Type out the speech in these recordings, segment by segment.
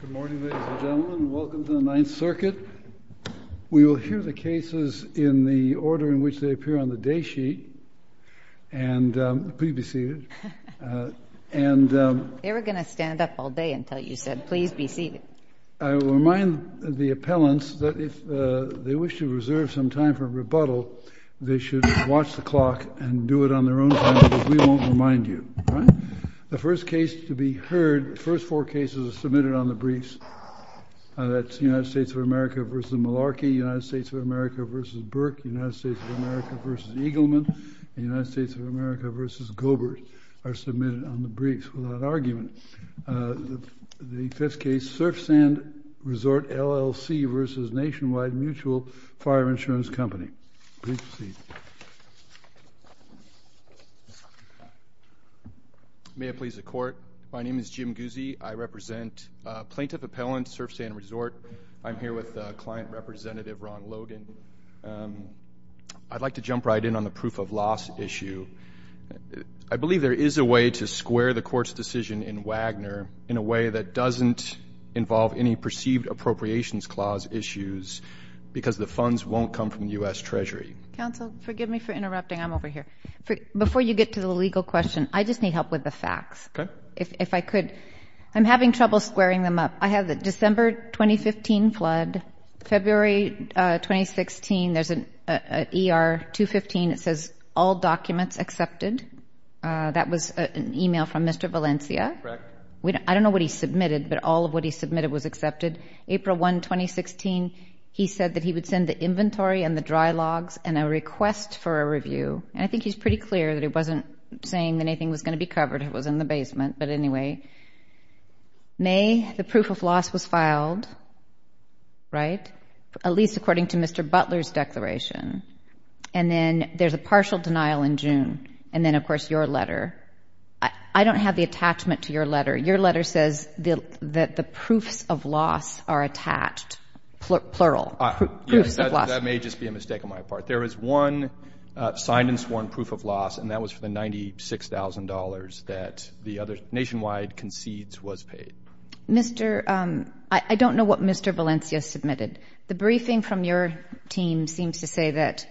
Good morning, ladies and gentlemen. Welcome to the Ninth Circuit. We will hear the cases in the order in which they appear on the day sheet. Please be seated. They were going to stand up all day until you said, please be seated. I will remind the appellants that if they wish to reserve some time for rebuttal, they should watch the clock and do it on their own time because we won't remind you. The first case to be heard, the first four cases are submitted on the briefs. That's United States of America v. Malarkey, United States of America v. Burke, United States of America v. Eagleman, and United States of America v. Gobert are submitted on the briefs without argument. The fifth case, Surfsand Resort, LLC v. Nationwide Mutual Fire Insurance Company. Please be seated. May it please the Court. My name is Jim Guzzi. I represent Plaintiff Appellant Surfsand Resort. I'm here with Client Representative Ron Logan. I'd like to jump right in on the proof of loss issue. I believe there is a way to square the Court's decision in Wagner in a way that doesn't involve any perceived appropriations clause issues because the funds won't come from the U.S. Treasury. Counsel, forgive me for interrupting. I'm over here. Before you get to the legal question, I just need help with the facts. Okay. If I could. I'm having trouble squaring them up. I have the December 2015 flood. February 2016, there's an ER 215 that says all documents accepted. That was an email from Mr. Valencia. Correct. I don't know what he submitted, but all of what he submitted was accepted. April 1, 2016, he said that he would send the inventory and the dry logs and a request for a review. And I think he's pretty clear that he wasn't saying that anything was going to be covered. It was in the basement. But anyway, May, the proof of loss was filed, right, at least according to Mr. Butler's declaration. And then there's a partial denial in June. And then, of course, your letter. I don't have the attachment to your letter. Your letter says that the proofs of loss are attached, plural, proofs of loss. That may just be a mistake on my part. There is one signed and sworn proof of loss, and that was for the $96,000 that Nationwide concedes was paid. I don't know what Mr. Valencia submitted. The briefing from your team seems to say that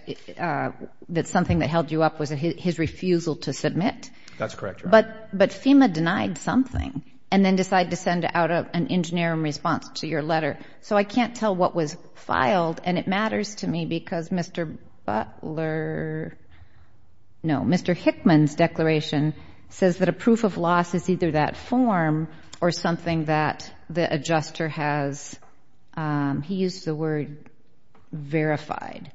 something that held you up was his refusal to submit. That's correct, Your Honor. But FEMA denied something and then decided to send out an engineering response to your letter. So I can't tell what was filed. And it matters to me because Mr. Butler, no, Mr. Hickman's declaration says that a proof of loss is either that form or something that the adjuster has, he used the word, verified.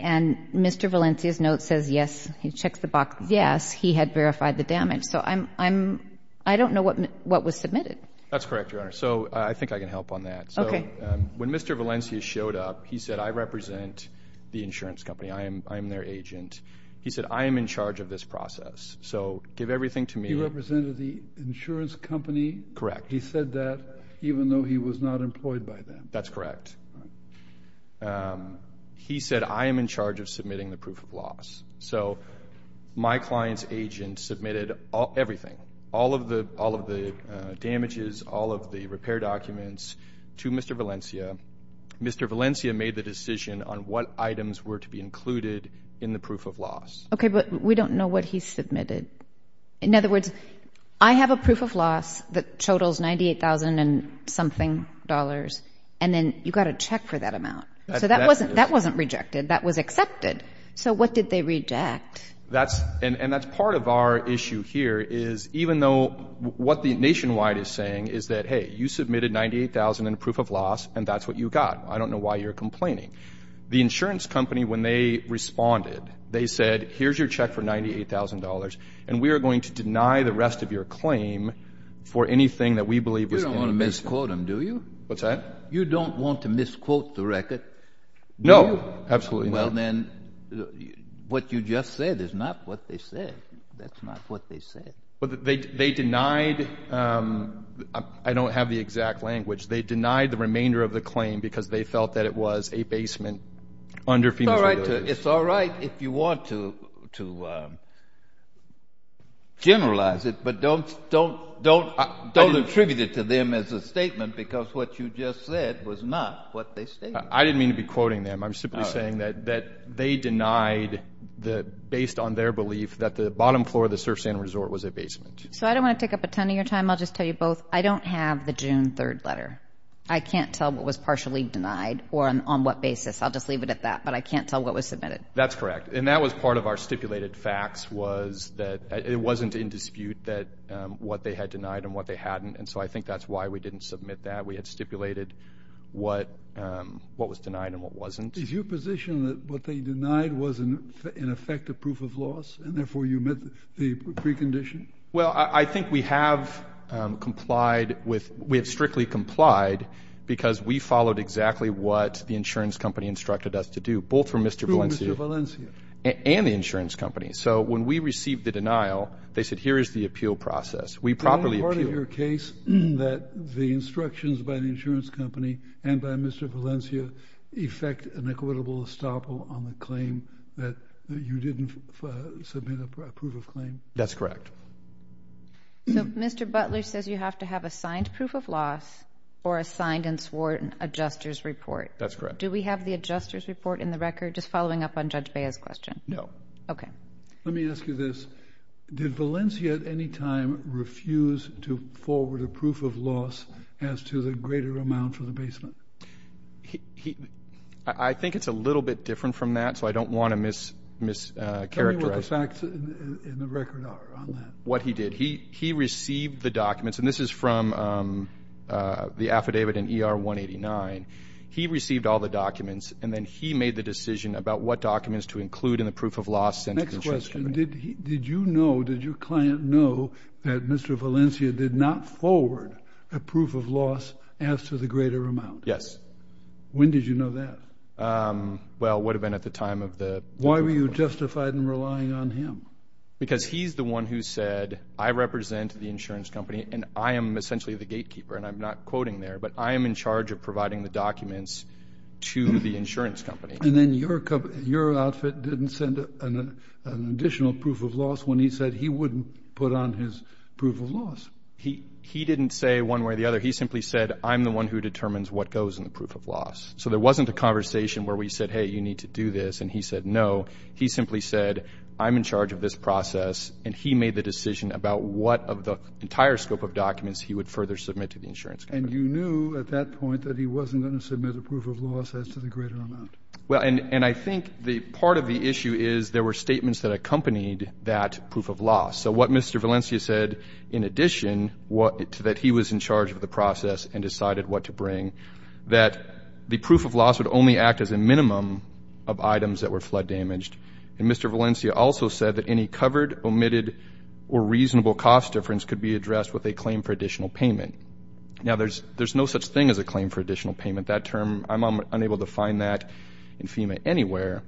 And Mr. Valencia's note says, yes, he checked the box, yes, he had verified the damage. So I don't know what was submitted. That's correct, Your Honor. So I think I can help on that. Okay. So when Mr. Valencia showed up, he said, I represent the insurance company. I am their agent. He said, I am in charge of this process. So give everything to me. He represented the insurance company? Correct. He said that even though he was not employed by them? That's correct. He said, I am in charge of submitting the proof of loss. So my client's agent submitted everything, all of the damages, all of the repair documents to Mr. Valencia. Mr. Valencia made the decision on what items were to be included in the proof of loss. Okay. But we don't know what he submitted. In other words, I have a proof of loss that totals $98,000 and something, and then you've got to check for that amount. So that wasn't rejected. That was accepted. So what did they reject? And that's part of our issue here is even though what Nationwide is saying is that, hey, you submitted $98,000 in proof of loss, and that's what you got. I don't know why you're complaining. The insurance company, when they responded, they said, here's your check for $98,000, and we are going to deny the rest of your claim for anything that we believe was in it. You don't want to misquote them, do you? What's that? You don't want to misquote the record? No, absolutely not. Well, then what you just said is not what they said. That's not what they said. They denied the remainder of the claim because they felt that it was a basement under FEMA's authority. It's all right if you want to generalize it, but don't attribute it to them as a statement because what you just said was not what they stated. I didn't mean to be quoting them. I'm simply saying that they denied, based on their belief, that the bottom floor of the surf sand resort was a basement. So I don't want to take up a ton of your time. I'll just tell you both, I don't have the June 3rd letter. I can't tell what was partially denied or on what basis. I'll just leave it at that, but I can't tell what was submitted. That's correct. And that was part of our stipulated facts was that it wasn't in dispute that what they had denied and what they hadn't, and so I think that's why we didn't submit that. We had stipulated what was denied and what wasn't. Is your position that what they denied was in effect a proof of loss and therefore you met the precondition? Well, I think we have strictly complied because we followed exactly what the insurance company instructed us to do, both from Mr. Valencia and the insurance company. So when we received the denial, they said here is the appeal process. We properly appealed. Is it your case that the instructions by the insurance company and by Mr. Valencia effect an equitable estoppel on the claim that you didn't submit a proof of claim? That's correct. So Mr. Butler says you have to have a signed proof of loss or a signed and sworn adjuster's report. That's correct. Do we have the adjuster's report in the record, just following up on Judge Bea's question? No. Okay. Let me ask you this. Did Valencia at any time refuse to forward a proof of loss as to the greater amount for the basement? I think it's a little bit different from that, so I don't want to mischaracterize. Tell me what the facts in the record are on that. What he did. He received the documents, and this is from the affidavit in ER 189. He received all the documents, and then he made the decision about what documents to include in the proof of loss. Next question. Did you know, did your client know that Mr. Valencia did not forward a proof of loss as to the greater amount? Yes. When did you know that? Well, it would have been at the time of the proof of loss. Why were you justified in relying on him? Because he's the one who said, I represent the insurance company, and I am essentially the gatekeeper, and I'm not quoting there, but I am in charge of providing the documents to the insurance company. And then your outfit didn't send an additional proof of loss when he said he wouldn't put on his proof of loss. He didn't say one way or the other. He simply said, I'm the one who determines what goes in the proof of loss. So there wasn't a conversation where we said, hey, you need to do this, and he said no. He simply said, I'm in charge of this process, and he made the decision about what of the entire scope of documents he would further submit to the insurance company. And you knew at that point that he wasn't going to submit a proof of loss as to the greater amount? Well, and I think part of the issue is there were statements that accompanied that proof of loss. So what Mr. Valencia said in addition to that he was in charge of the process and decided what to bring, that the proof of loss would only act as a minimum of items that were flood damaged. And Mr. Valencia also said that any covered, omitted, or reasonable cost difference could be addressed with a claim for additional payment. Now, there's no such thing as a claim for additional payment. That term, I'm unable to find that in FEMA anywhere.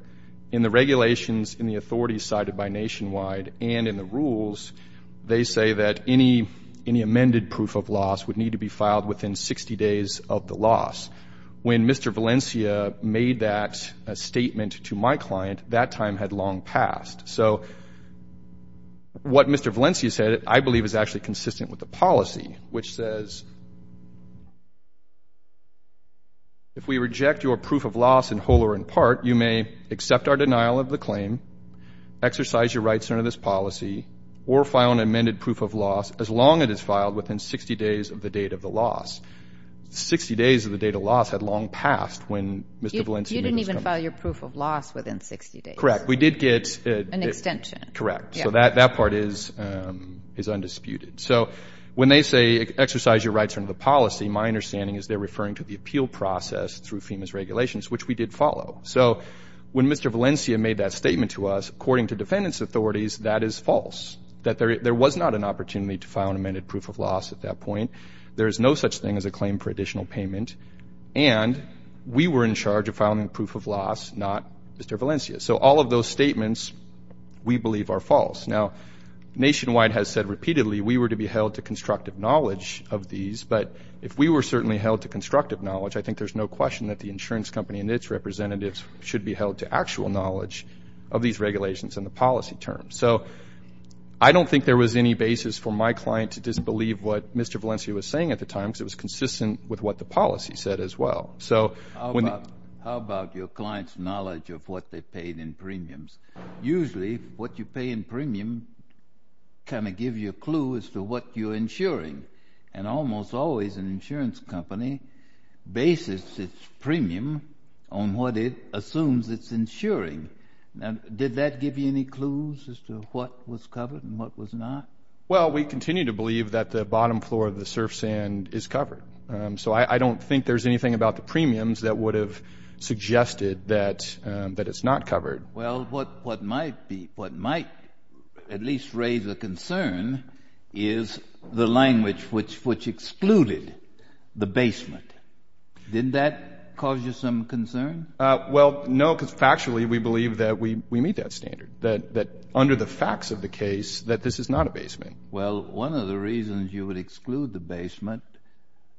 In the regulations, in the authorities cited by Nationwide, and in the rules, they say that any amended proof of loss would need to be filed within 60 days of the loss. When Mr. Valencia made that statement to my client, that time had long passed. So what Mr. Valencia said, I believe, is actually consistent with the policy, which says if we reject your proof of loss in whole or in part, you may accept our denial of the claim, exercise your rights under this policy, or file an amended proof of loss as long as it is filed within 60 days of the date of the loss. Sixty days of the date of loss had long passed when Mr. Valencia made his comment. You didn't even file your proof of loss within 60 days. Correct. We did get... An extension. Correct. So that part is undisputed. So when they say exercise your rights under the policy, my understanding is they're referring to the appeal process through FEMA's regulations, which we did follow. So when Mr. Valencia made that statement to us, according to defendant's authorities, that is false, that there was not an opportunity to file an amended proof of loss at that point. There is no such thing as a claim for additional payment. And we were in charge of filing the proof of loss, not Mr. Valencia. So all of those statements we believe are false. Now, Nationwide has said repeatedly we were to be held to constructive knowledge of these, but if we were certainly held to constructive knowledge, I think there's no question that the insurance company and its representatives should be held to actual knowledge of these regulations and the policy terms. So I don't think there was any basis for my client to disbelieve what Mr. Valencia was saying at the time because it was consistent with what the policy said as well. How about your client's knowledge of what they paid in premiums? Usually what you pay in premium kind of gives you a clue as to what you're insuring, and almost always an insurance company bases its premium on what it assumes it's insuring. Now, did that give you any clues as to what was covered and what was not? Well, we continue to believe that the bottom floor of the surf sand is covered. So I don't think there's anything about the premiums that would have suggested that it's not covered. Well, what might at least raise a concern is the language which excluded the basement. Did that cause you some concern? Well, no, because factually we believe that we meet that standard, that under the facts of the case that this is not a basement. Well, one of the reasons you would exclude the basement,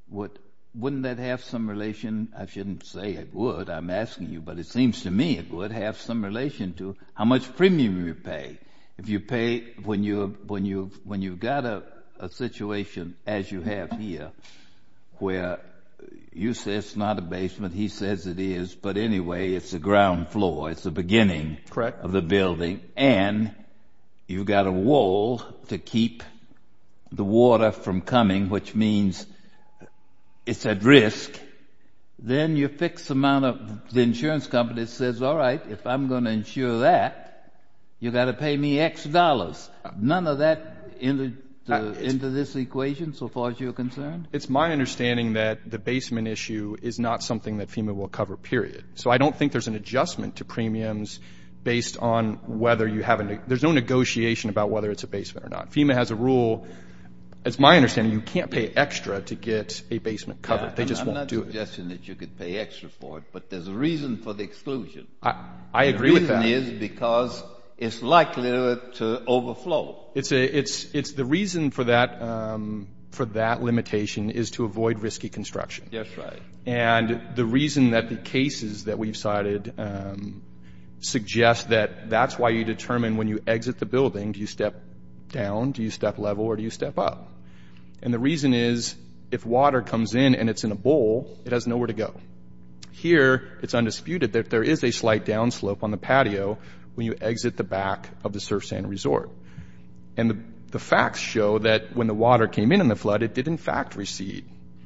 wouldn't that have some relation? I shouldn't say it would, I'm asking you, but it seems to me it would have some relation to how much premium you pay. If you pay when you've got a situation as you have here where you say it's not a basement, he says it is, but anyway it's the ground floor, it's the beginning of the building, and you've got a wall to keep the water from coming, which means it's at risk, then your fixed amount of the insurance company says, all right, if I'm going to insure that, you've got to pay me X dollars. None of that into this equation so far as you're concerned? It's my understanding that the basement issue is not something that FEMA will cover, period. So I don't think there's an adjustment to premiums based on whether you have any ñ there's no negotiation about whether it's a basement or not. FEMA has a rule. It's my understanding you can't pay extra to get a basement covered. They just won't do it. I'm not suggesting that you could pay extra for it, but there's a reason for the exclusion. I agree with that. The reason is because it's likely to overflow. It's the reason for that limitation is to avoid risky construction. Yes, right. And the reason that the cases that we've cited suggest that that's why you determine when you exit the building, do you step down, do you step level, or do you step up? And the reason is if water comes in and it's in a bowl, it has nowhere to go. Here, it's undisputed that there is a slight downslope on the patio when you exit the back of the surf sand resort. And the facts show that when the water came in in the flood, it did in fact recede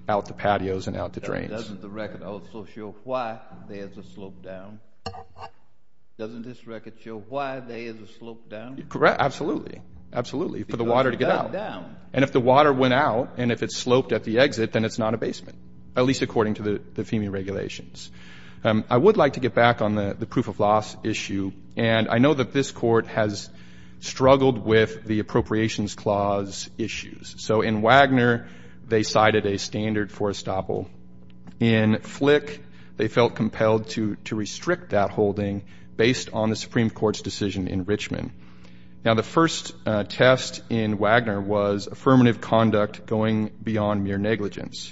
out the patios and out the drains. Doesn't the record also show why there's a slope down? Doesn't this record show why there is a slope down? Correct. Absolutely. Absolutely. For the water to get out. And if the water went out and if it sloped at the exit, then it's not a basement, at least according to the FEMA regulations. I would like to get back on the proof of loss issue. And I know that this Court has struggled with the Appropriations Clause issues. So in Wagner, they cited a standard for estoppel. In Flick, they felt compelled to restrict that holding based on the Supreme Court's decision in Richmond. Now, the first test in Wagner was affirmative conduct going beyond mere negligence.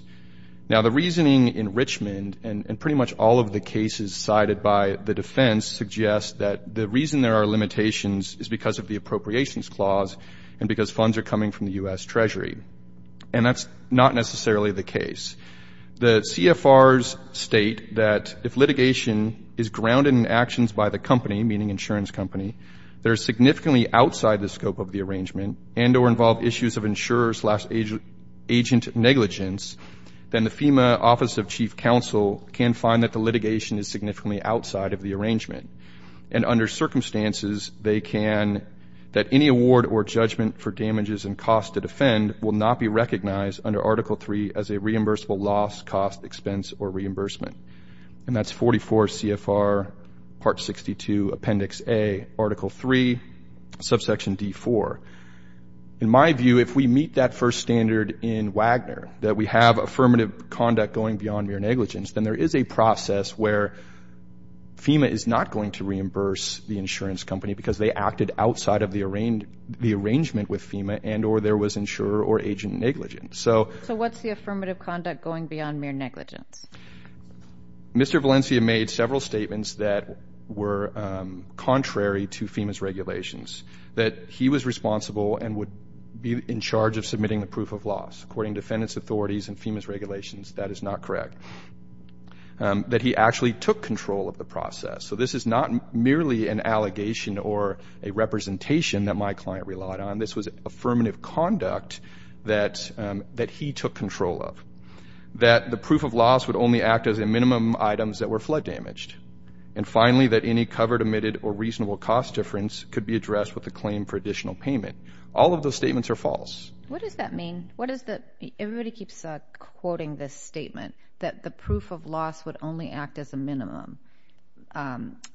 Now, the reasoning in Richmond and pretty much all of the cases cited by the defense suggests that the reason there are limitations is because of the Appropriations Clause and because funds are coming from the U.S. Treasury. And that's not necessarily the case. The CFRs state that if litigation is grounded in actions by the company, meaning insurance company, that are significantly outside the scope of the arrangement and or involve issues of insurer's agent negligence, then the FEMA Office of Chief Counsel can find that the litigation is significantly outside of the arrangement. And under circumstances, they can, that any award or judgment for damages and costs to defend will not be recognized under Article III as a reimbursable loss, cost, expense, or reimbursement. And that's 44 CFR Part 62 Appendix A, Article III, Subsection D4. In my view, if we meet that first standard in Wagner, that we have affirmative conduct going beyond mere negligence, then there is a process where FEMA is not going to reimburse the insurance company because they acted outside of the arrangement with FEMA and or there was insurer or agent negligence. So what's the affirmative conduct going beyond mere negligence? Mr. Valencia made several statements that were contrary to FEMA's regulations, that he was responsible and would be in charge of submitting the proof of loss, according to defendant's authorities and FEMA's regulations. That is not correct. That he actually took control of the process. So this is not merely an allegation or a representation that my client relied on. This was affirmative conduct that he took control of. That the proof of loss would only act as a minimum items that were flood damaged. And finally, that any covered, omitted, or reasonable cost difference could be addressed with a claim for additional payment. All of those statements are false. What does that mean? Everybody keeps quoting this statement that the proof of loss would only act as a minimum.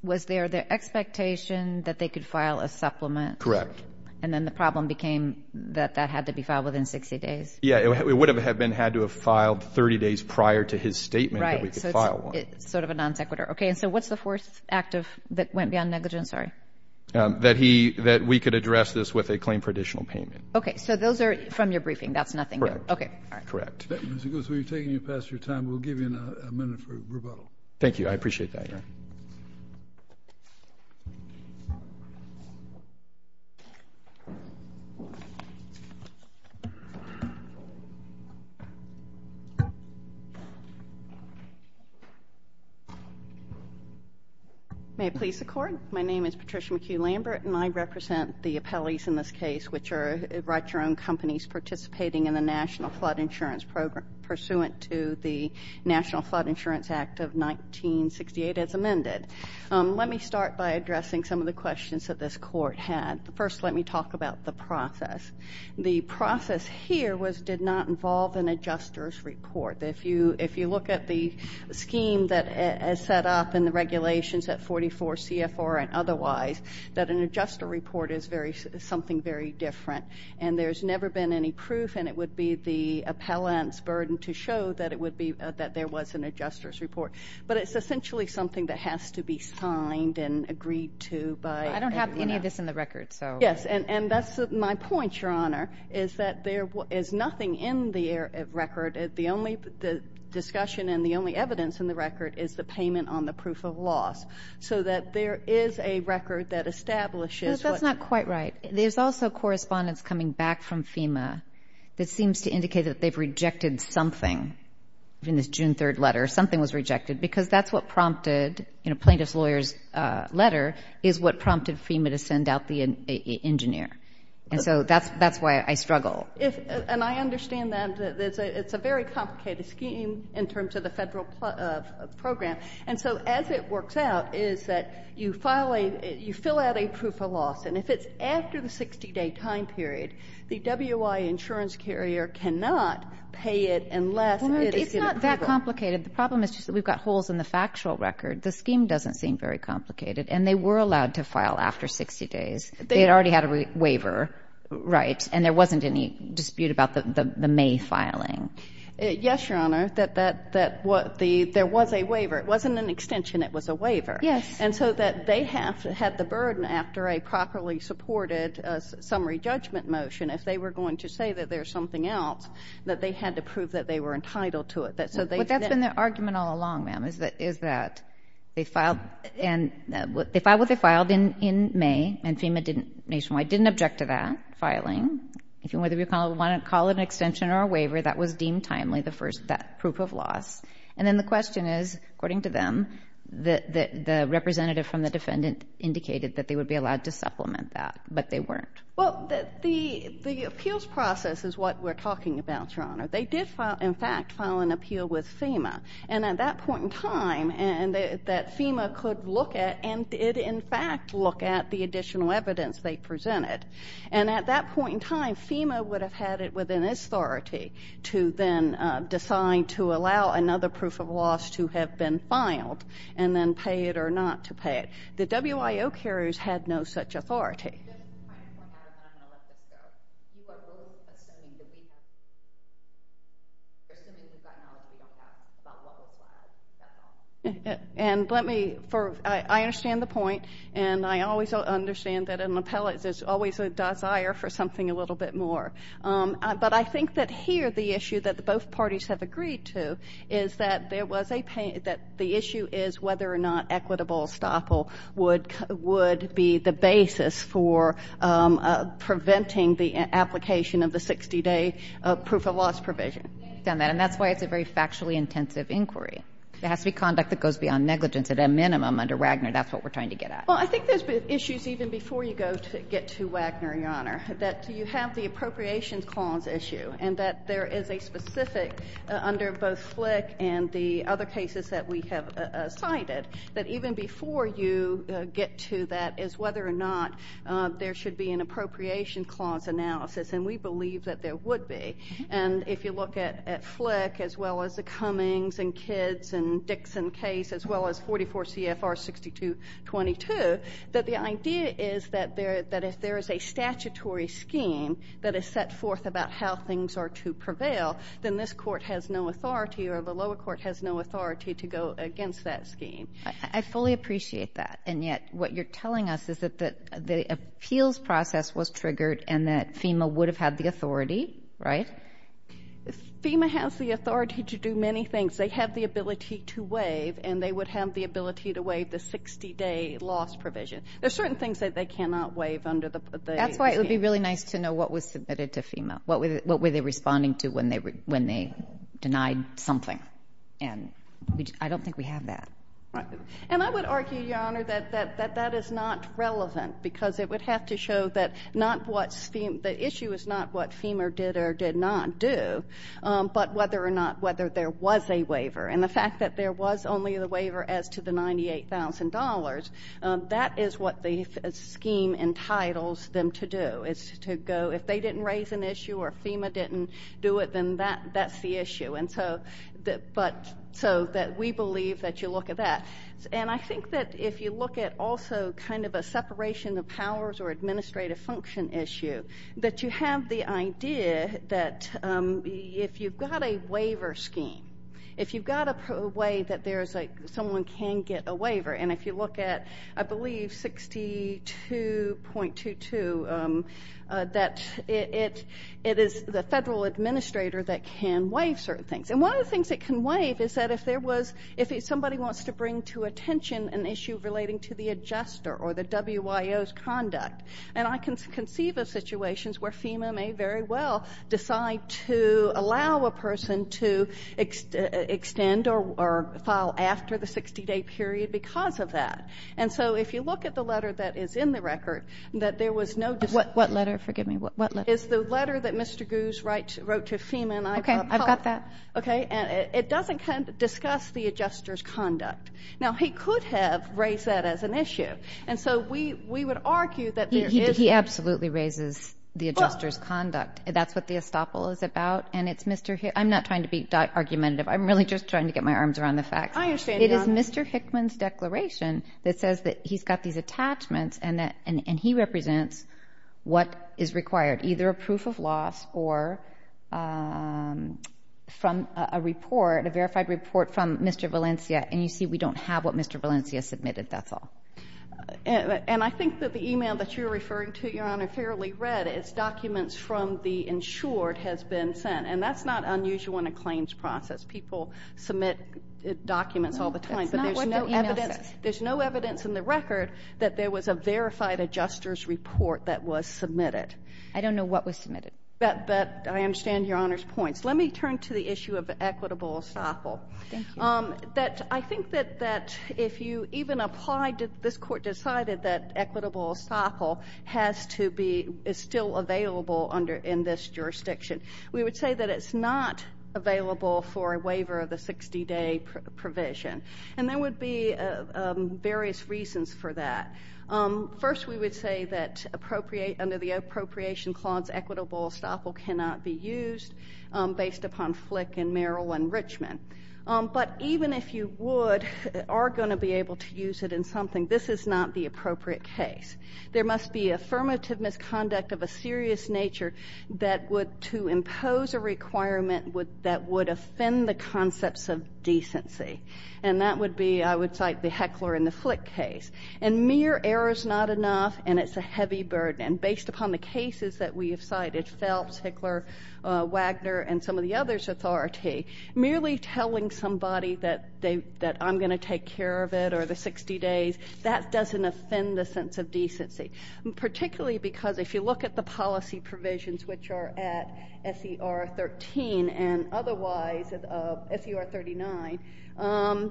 Was there the expectation that they could file a supplement? Correct. And then the problem became that that had to be filed within 60 days? Yeah. It would have been had to have filed 30 days prior to his statement that we could file one. Right. So it's sort of a non sequitur. Okay. And so what's the fourth act that went beyond negligence? Sorry. That we could address this with a claim for additional payment. Okay. So those are from your briefing. That's nothing new. Correct. Okay. All right. Correct. Mr. Goosby, you're taking up past your time. We'll give you a minute for rebuttal. Thank you. I appreciate that. Thank you, Mr. Chair. May it please the Court? My name is Patricia McHugh-Lambert, and I represent the appellees in this case, which are write-your-own companies participating in the National Flood Insurance Program 1968 as amended. Let me start by addressing some of the questions that this Court had. First, let me talk about the process. The process here did not involve an adjuster's report. If you look at the scheme that is set up in the regulations at 44 CFR and otherwise, that an adjuster report is something very different, and there's never been any proof, and it would be the appellant's burden to show that there was an adjuster's report. But it's essentially something that has to be signed and agreed to by an appellant. I don't have any of this in the record. Yes. And that's my point, Your Honor, is that there is nothing in the record. The only discussion and the only evidence in the record is the payment on the proof of loss, so that there is a record that establishes what — No, that's not quite right. There's also correspondence coming back from FEMA that seems to indicate that they've rejected something in this June 3rd letter. Something was rejected because that's what prompted, you know, plaintiff's lawyer's letter is what prompted FEMA to send out the engineer. And so that's why I struggle. And I understand that. It's a very complicated scheme in terms of the federal program. And so as it works out is that you file a — you fill out a proof of loss. And if it's after the 60-day time period, the WI insurance carrier cannot pay it unless it is in a waiver. Well, it's not that complicated. The problem is just that we've got holes in the factual record. The scheme doesn't seem very complicated. And they were allowed to file after 60 days. They had already had a waiver, right, and there wasn't any dispute about the May filing. Yes, Your Honor, that there was a waiver. It wasn't an extension. It was a waiver. Yes. And so that they have had the burden after a properly supported summary judgment motion, if they were going to say that there's something else, that they had to prove that they were entitled to it. But that's been their argument all along, ma'am, is that they filed and — they filed what they filed in May, and FEMA didn't — Nationwide didn't object to that filing. Whether we want to call it an extension or a waiver, that was deemed timely, that proof of loss. And then the question is, according to them, the representative from the defendant indicated that they would be allowed to supplement that, but they weren't. Well, the appeals process is what we're talking about, Your Honor. They did, in fact, file an appeal with FEMA. And at that point in time, that FEMA could look at and did, in fact, look at the additional evidence they presented. And at that point in time, FEMA would have had it within its authority to then decide to allow another proof of loss to have been filed and then pay it or not to pay it. The WIO carriers had no such authority. I understand the point. And I always understand that an appellate is always a desire for something a little bit more. But I think that here the issue that both parties have agreed to is that there was a — that the issue is whether or not equitable estoppel would be the basis for preventing the application of the 60-day proof of loss provision. I understand that. And that's why it's a very factually intensive inquiry. It has to be conduct that goes beyond negligence at a minimum under Wagner. That's what we're trying to get at. Well, I think there's issues even before you get to Wagner, Your Honor, that you have the appropriations clause issue and that there is a specific, under both Flick and the other cases that we have cited, that even before you get to that is whether or not there should be an appropriation clause analysis. And we believe that there would be. And if you look at Flick as well as the Cummings and Kidds and Dixon case as well as 44 CFR 6222, that the idea is that if there is a statutory scheme that is set forth about how things are to prevail, then this court has no authority or the lower court has no authority to go against that scheme. I fully appreciate that. And yet what you're telling us is that the appeals process was triggered and that FEMA would have had the authority, right? FEMA has the authority to do many things. They have the ability to waive and they would have the ability to waive the 60-day loss provision. There are certain things that they cannot waive under the scheme. That's why it would be really nice to know what was submitted to FEMA, what were they responding to when they denied something. And I don't think we have that. Right. And I would argue, Your Honor, that that is not relevant because it would have to show that not what FEMA, the issue is not what FEMA did or did not do, but whether or not whether there was a waiver. And the fact that there was only the waiver as to the $98,000, that is what the scheme entitles them to do, is to go if they didn't raise an issue or FEMA didn't do it, then that's the issue. And so we believe that you look at that. And I think that if you look at also kind of a separation of powers or administrative function issue, that you have the idea that if you've got a waiver scheme, if you've got a way that someone can get a waiver, and if you look at, I believe, 62.22, that it is the federal administrator that can waive certain things. And one of the things it can waive is that if there was, if somebody wants to bring to attention an issue relating to the adjuster or the WIO's conduct. And I can conceive of situations where FEMA may very well decide to allow a person to extend or file after the 60-day period because of that. And so if you look at the letter that is in the record, that there was no decision. What letter? Forgive me. It's the letter that Mr. Goos wrote to FEMA. Okay. I've got that. Okay. And it doesn't discuss the adjuster's conduct. Now, he could have raised that as an issue. And so we would argue that there is. He absolutely raises the adjuster's conduct. That's what the estoppel is about. And it's Mr. Hickman. I'm not trying to be argumentative. I'm really just trying to get my arms around the facts. I understand, Your Honor. It is Mr. Hickman's declaration that says that he's got these attachments, and he represents what is required, either a proof of loss or from a report, a verified report from Mr. Valencia. And you see we don't have what Mr. Valencia submitted. That's all. And I think that the email that you're referring to, Your Honor, fairly read is documents from the insured has been sent. And that's not unusual in a claims process. People submit documents all the time. That's not what the email says. There's no evidence in the record that there was a verified adjuster's report that was submitted. I don't know what was submitted. But I understand Your Honor's points. Let me turn to the issue of equitable estoppel. Thank you. I think that if you even applied, this Court decided that equitable estoppel is still available in this jurisdiction. We would say that it's not available for a waiver of the 60-day provision. And there would be various reasons for that. First, we would say that under the appropriation clause, equitable estoppel cannot be used based upon FLIC and Merrill and Richmond. But even if you would or are going to be able to use it in something, this is not the appropriate case. There must be affirmative misconduct of a serious nature that would impose a requirement that would offend the concepts of decency. And that would be, I would cite the Heckler and the FLIC case. And mere error is not enough, and it's a heavy burden. And based upon the cases that we have cited, Phelps, Heckler, Wagner, and some of the others with RRT, merely telling somebody that I'm going to take care of it or the 60 days, that doesn't offend the sense of decency. Particularly because if you look at the policy provisions, which are at SER 13 and otherwise at SER 39,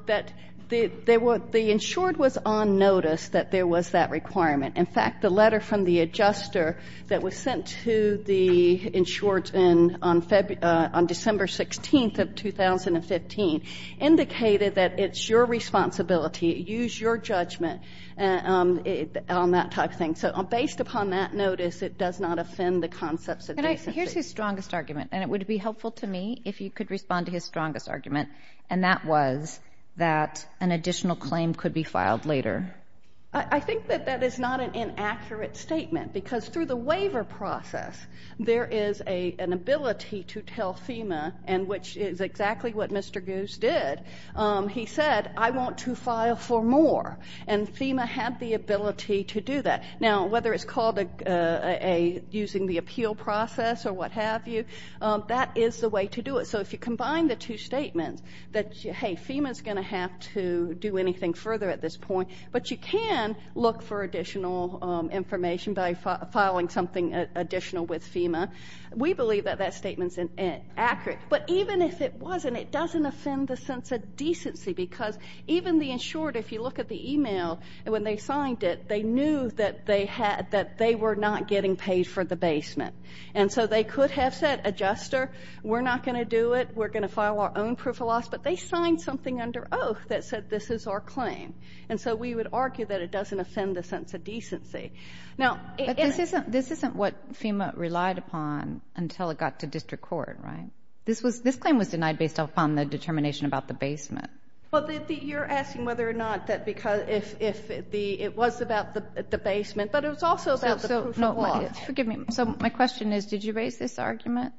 that the insured was on notice that there was that requirement. In fact, the letter from the adjuster that was sent to the insured on December 16th of 2015 indicated that it's your responsibility, use your judgment on that type of thing. So based upon that notice, it does not offend the concepts of decency. And here's his strongest argument, and it would be helpful to me if you could respond to his strongest argument, and that was that an additional claim could be filed later. I think that that is not an inaccurate statement, because through the waiver process, there is an ability to tell FEMA, and which is exactly what Mr. Goose did. He said, I want to file for more. And FEMA had the ability to do that. Now, whether it's called using the appeal process or what have you, that is the way to do it. So if you combine the two statements that, hey, FEMA is going to have to do anything further at this point, but you can look for additional information by filing something additional with FEMA, we believe that that statement is accurate. But even if it wasn't, it doesn't offend the sense of decency, because even the insured, if you look at the email, when they signed it, they knew that they were not getting paid for the basement. And so they could have said, adjuster, we're not going to do it. We're going to file our own proof of loss. But they signed something under oath that said this is our claim. And so we would argue that it doesn't offend the sense of decency. But this isn't what FEMA relied upon until it got to district court, right? This claim was denied based upon the determination about the basement. Well, you're asking whether or not it was about the basement, but it was also about the proof of loss. Forgive me. So my question is, did you raise this argument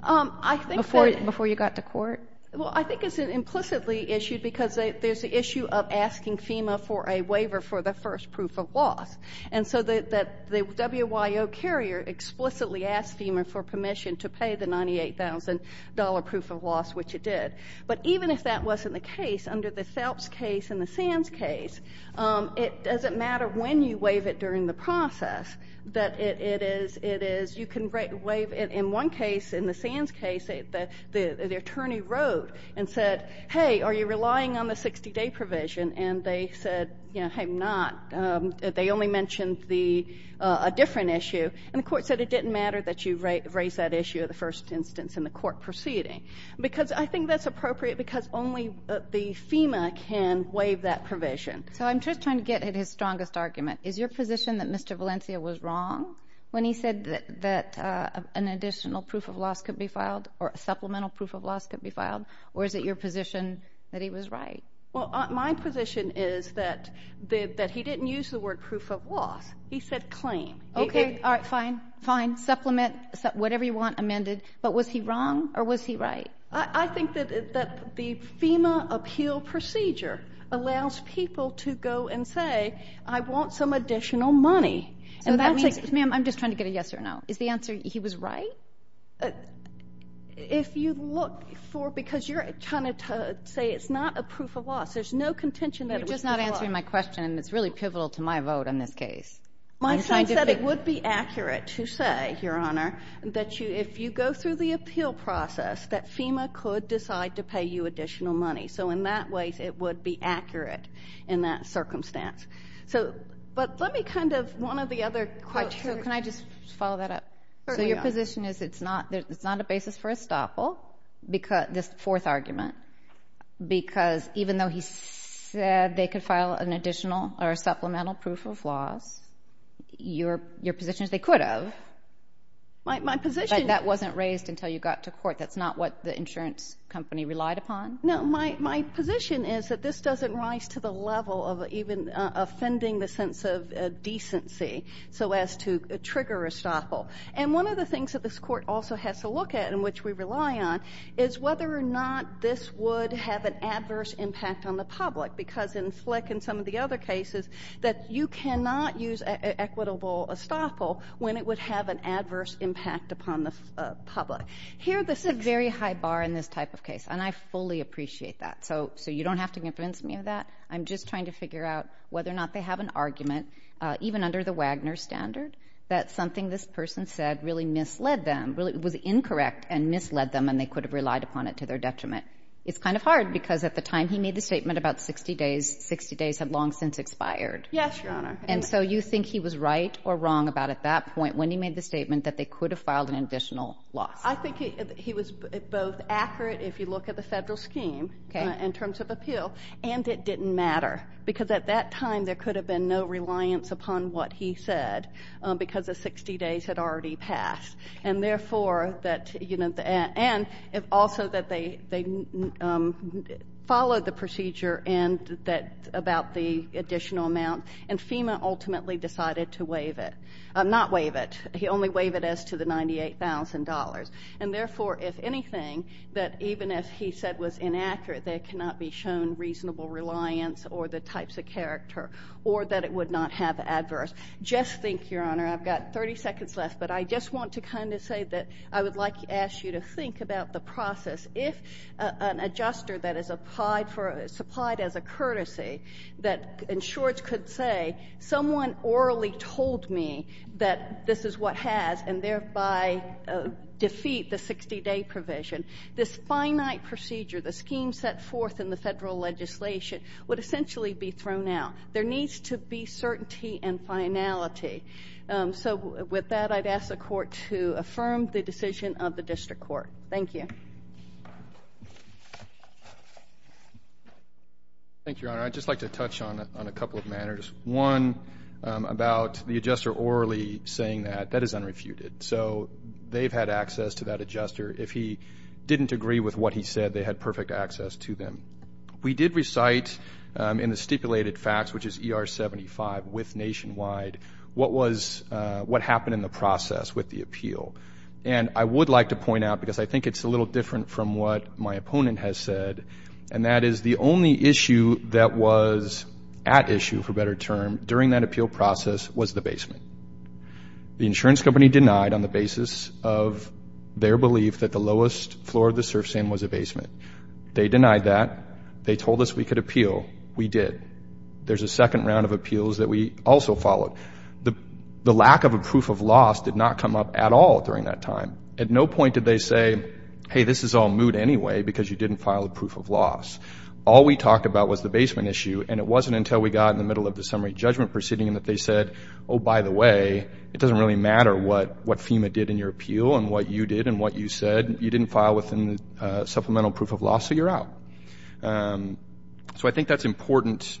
before you got to court? Well, I think it's implicitly issued because there's the issue of asking FEMA for a waiver for the first proof of loss. And so the WYO carrier explicitly asked FEMA for permission to pay the $98,000 proof of loss, which it did. But even if that wasn't the case, under the Phelps case and the Sands case, it doesn't matter when you waive it during the process. You can waive it in one case. In the Sands case, the attorney wrote and said, hey, are you relying on the 60-day provision? And they said, hey, I'm not. They only mentioned a different issue. And the court said it didn't matter that you raised that issue at the first instance in the court proceeding. Because I think that's appropriate because only the FEMA can waive that provision. So I'm just trying to get at his strongest argument. Is your position that Mr. Valencia was wrong when he said that an additional proof of loss could be filed or a supplemental proof of loss could be filed, or is it your position that he was right? Well, my position is that he didn't use the word proof of loss. He said claim. Okay, all right, fine, fine, supplement, whatever you want amended. But was he wrong or was he right? I think that the FEMA appeal procedure allows people to go and say, I want some additional money. So that means, ma'am, I'm just trying to get a yes or no. Is the answer he was right? If you look for, because you're trying to say it's not a proof of loss, there's no contention that it was proof of loss. You're just not answering my question, and it's really pivotal to my vote on this case. My son said it would be accurate to say, Your Honor, that if you go through the appeal process, that FEMA could decide to pay you additional money. So in that way, it would be accurate in that circumstance. But let me kind of, one of the other questions. So can I just follow that up? Certainly, Your Honor. So your position is it's not a basis for estoppel, this fourth argument, because even though he said they could file an additional or supplemental proof of loss, your position is they could have, but that wasn't raised until you got to court. That's not what the insurance company relied upon? No. My position is that this doesn't rise to the level of even offending the sense of decency so as to trigger estoppel. And one of the things that this Court also has to look at, and which we rely on, is whether or not this would have an adverse impact on the public, because in Flick and some of the other cases, that you cannot use equitable estoppel when it would have an adverse impact upon the public. Here, this is a very high bar in this type of case, and I fully appreciate that. So you don't have to convince me of that. I'm just trying to figure out whether or not they have an argument, even under the Wagner standard, that something this person said really misled them, was incorrect and misled them, and they could have relied upon it to their detriment. It's kind of hard, because at the time he made the statement about 60 days, 60 days had long since expired. Yes, Your Honor. And so you think he was right or wrong about, at that point, when he made the statement that they could have filed an additional loss? I think he was both accurate, if you look at the Federal scheme in terms of appeal, and it didn't matter, because at that time there could have been no reliance upon what he said because the 60 days had already passed. And, therefore, that, you know, and also that they followed the procedure about the additional amount, and FEMA ultimately decided to waive it. Not waive it. He only waived it as to the $98,000. And, therefore, if anything, that even if he said was inaccurate, there cannot be shown reasonable reliance or the types of character or that it would not have adverse. Just think, Your Honor. I've got 30 seconds left, but I just want to kind of say that I would like to ask you to think about the process. If an adjuster that is supplied as a courtesy, that insurers could say, someone orally told me that this is what has, and thereby defeat the 60-day provision, this finite procedure, the scheme set forth in the Federal legislation, would essentially be thrown out. There needs to be certainty and finality. So with that, I'd ask the Court to affirm the decision of the District Court. Thank you. Thank you, Your Honor. I'd just like to touch on a couple of matters. One, about the adjuster orally saying that, that is unrefuted. So they've had access to that adjuster. If he didn't agree with what he said, they had perfect access to them. We did recite in the stipulated facts, which is ER 75 with nationwide, what happened in the process with the appeal. And I would like to point out, because I think it's a little different from what my opponent has said, and that is the only issue that was at issue, for better term, during that appeal process was the basement. The insurance company denied on the basis of their belief that the lowest floor of the surf sand was a basement. They denied that. They told us we could appeal. We did. There's a second round of appeals that we also followed. The lack of a proof of loss did not come up at all during that time. At no point did they say, hey, this is all moot anyway because you didn't file a proof of loss. All we talked about was the basement issue, and it wasn't until we got in the middle of the summary judgment proceeding that they said, oh, by the way, it doesn't really matter what FEMA did in your appeal and what you did and what you said. You didn't file within the supplemental proof of loss, so you're out. So I think that's important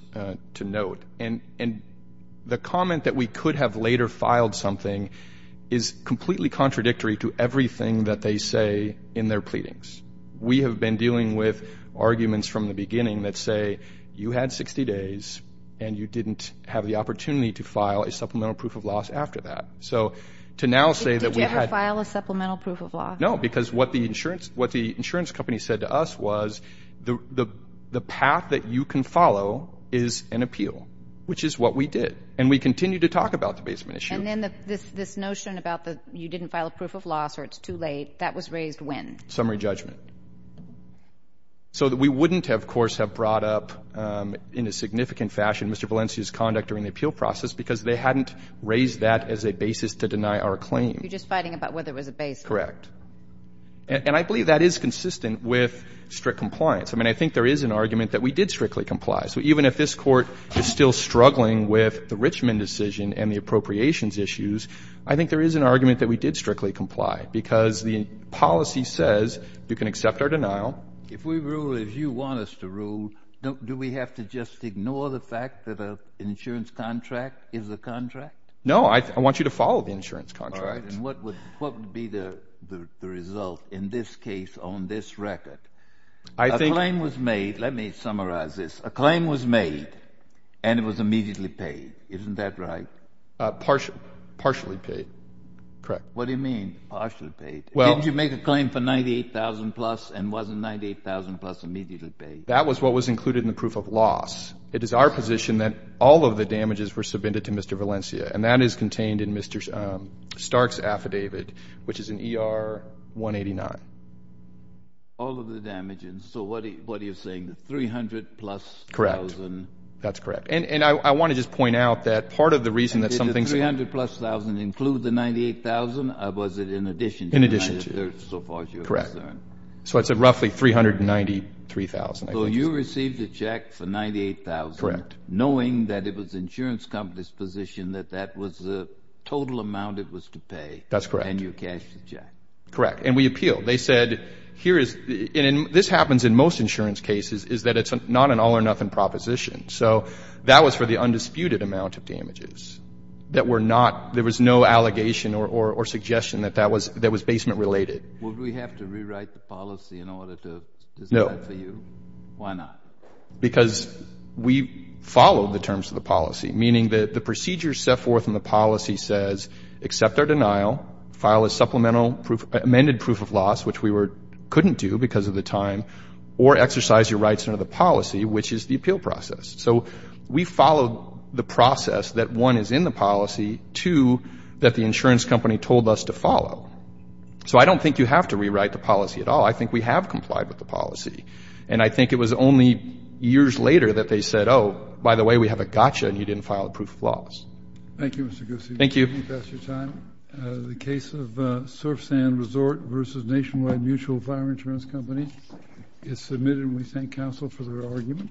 to note. And the comment that we could have later filed something is completely contradictory to everything that they say in their pleadings. We have been dealing with arguments from the beginning that say you had 60 days and you didn't have the opportunity to file a supplemental proof of loss after that. So to now say that we had to. Did you ever file a supplemental proof of loss? No, because what the insurance company said to us was the path that you can follow is an appeal, which is what we did. And we continue to talk about the basement issue. And then this notion about you didn't file a proof of loss or it's too late, that was raised when? Summary judgment. So we wouldn't, of course, have brought up in a significant fashion Mr. Valencia's conduct during the appeal process because they hadn't raised that as a basis to deny our claim. You're just fighting about whether it was a basis. Correct. And I believe that is consistent with strict compliance. I mean, I think there is an argument that we did strictly comply. So even if this Court is still struggling with the Richmond decision and the appropriations issues, I think there is an argument that we did strictly comply because the policy says you can accept our denial. If we rule as you want us to rule, do we have to just ignore the fact that an insurance contract is a contract? No, I want you to follow the insurance contract. And what would be the result in this case on this record? A claim was made. Let me summarize this. A claim was made and it was immediately paid. Isn't that right? Partially paid. Correct. What do you mean partially paid? Didn't you make a claim for $98,000-plus and wasn't $98,000-plus immediately paid? That was what was included in the proof of loss. It is our position that all of the damages were submitted to Mr. Valencia, and that is contained in Mr. Stark's affidavit, which is in ER 189. All of the damages. So what are you saying, the $300,000-plus? Correct. That's correct. And I want to just point out that part of the reason that some things are ---- Did the $300,000-plus include the $98,000, or was it in addition to it? In addition to it. So far as you're concerned. Correct. So it's roughly $393,000. So you received a check for $98,000. Correct. Knowing that it was the insurance company's position that that was the total amount it was to pay. That's correct. And you cashed the check. Correct. And we appealed. They said here is ---- and this happens in most insurance cases, is that it's not an all-or-nothing proposition. So that was for the undisputed amount of damages that were not ---- there was no allegation or suggestion that that was basement-related. Would we have to rewrite the policy in order to ---- No. Why not? Because we followed the terms of the policy, meaning that the procedure set forth in the policy says accept our denial, file a supplemental proof, amended proof of loss, which we couldn't do because of the time, or exercise your rights under the policy, which is the appeal process. So we followed the process that, one, is in the policy, two, that the insurance company told us to follow. So I don't think you have to rewrite the policy at all. I think we have complied with the policy. And I think it was only years later that they said, oh, by the way, we have a gotcha, and you didn't file a proof of loss. Thank you, Mr. Goosey. Thank you. We've passed your time. The case of Surf Sand Resort versus Nationwide Mutual Fire Insurance Company is submitted, and we thank counsel for their argument.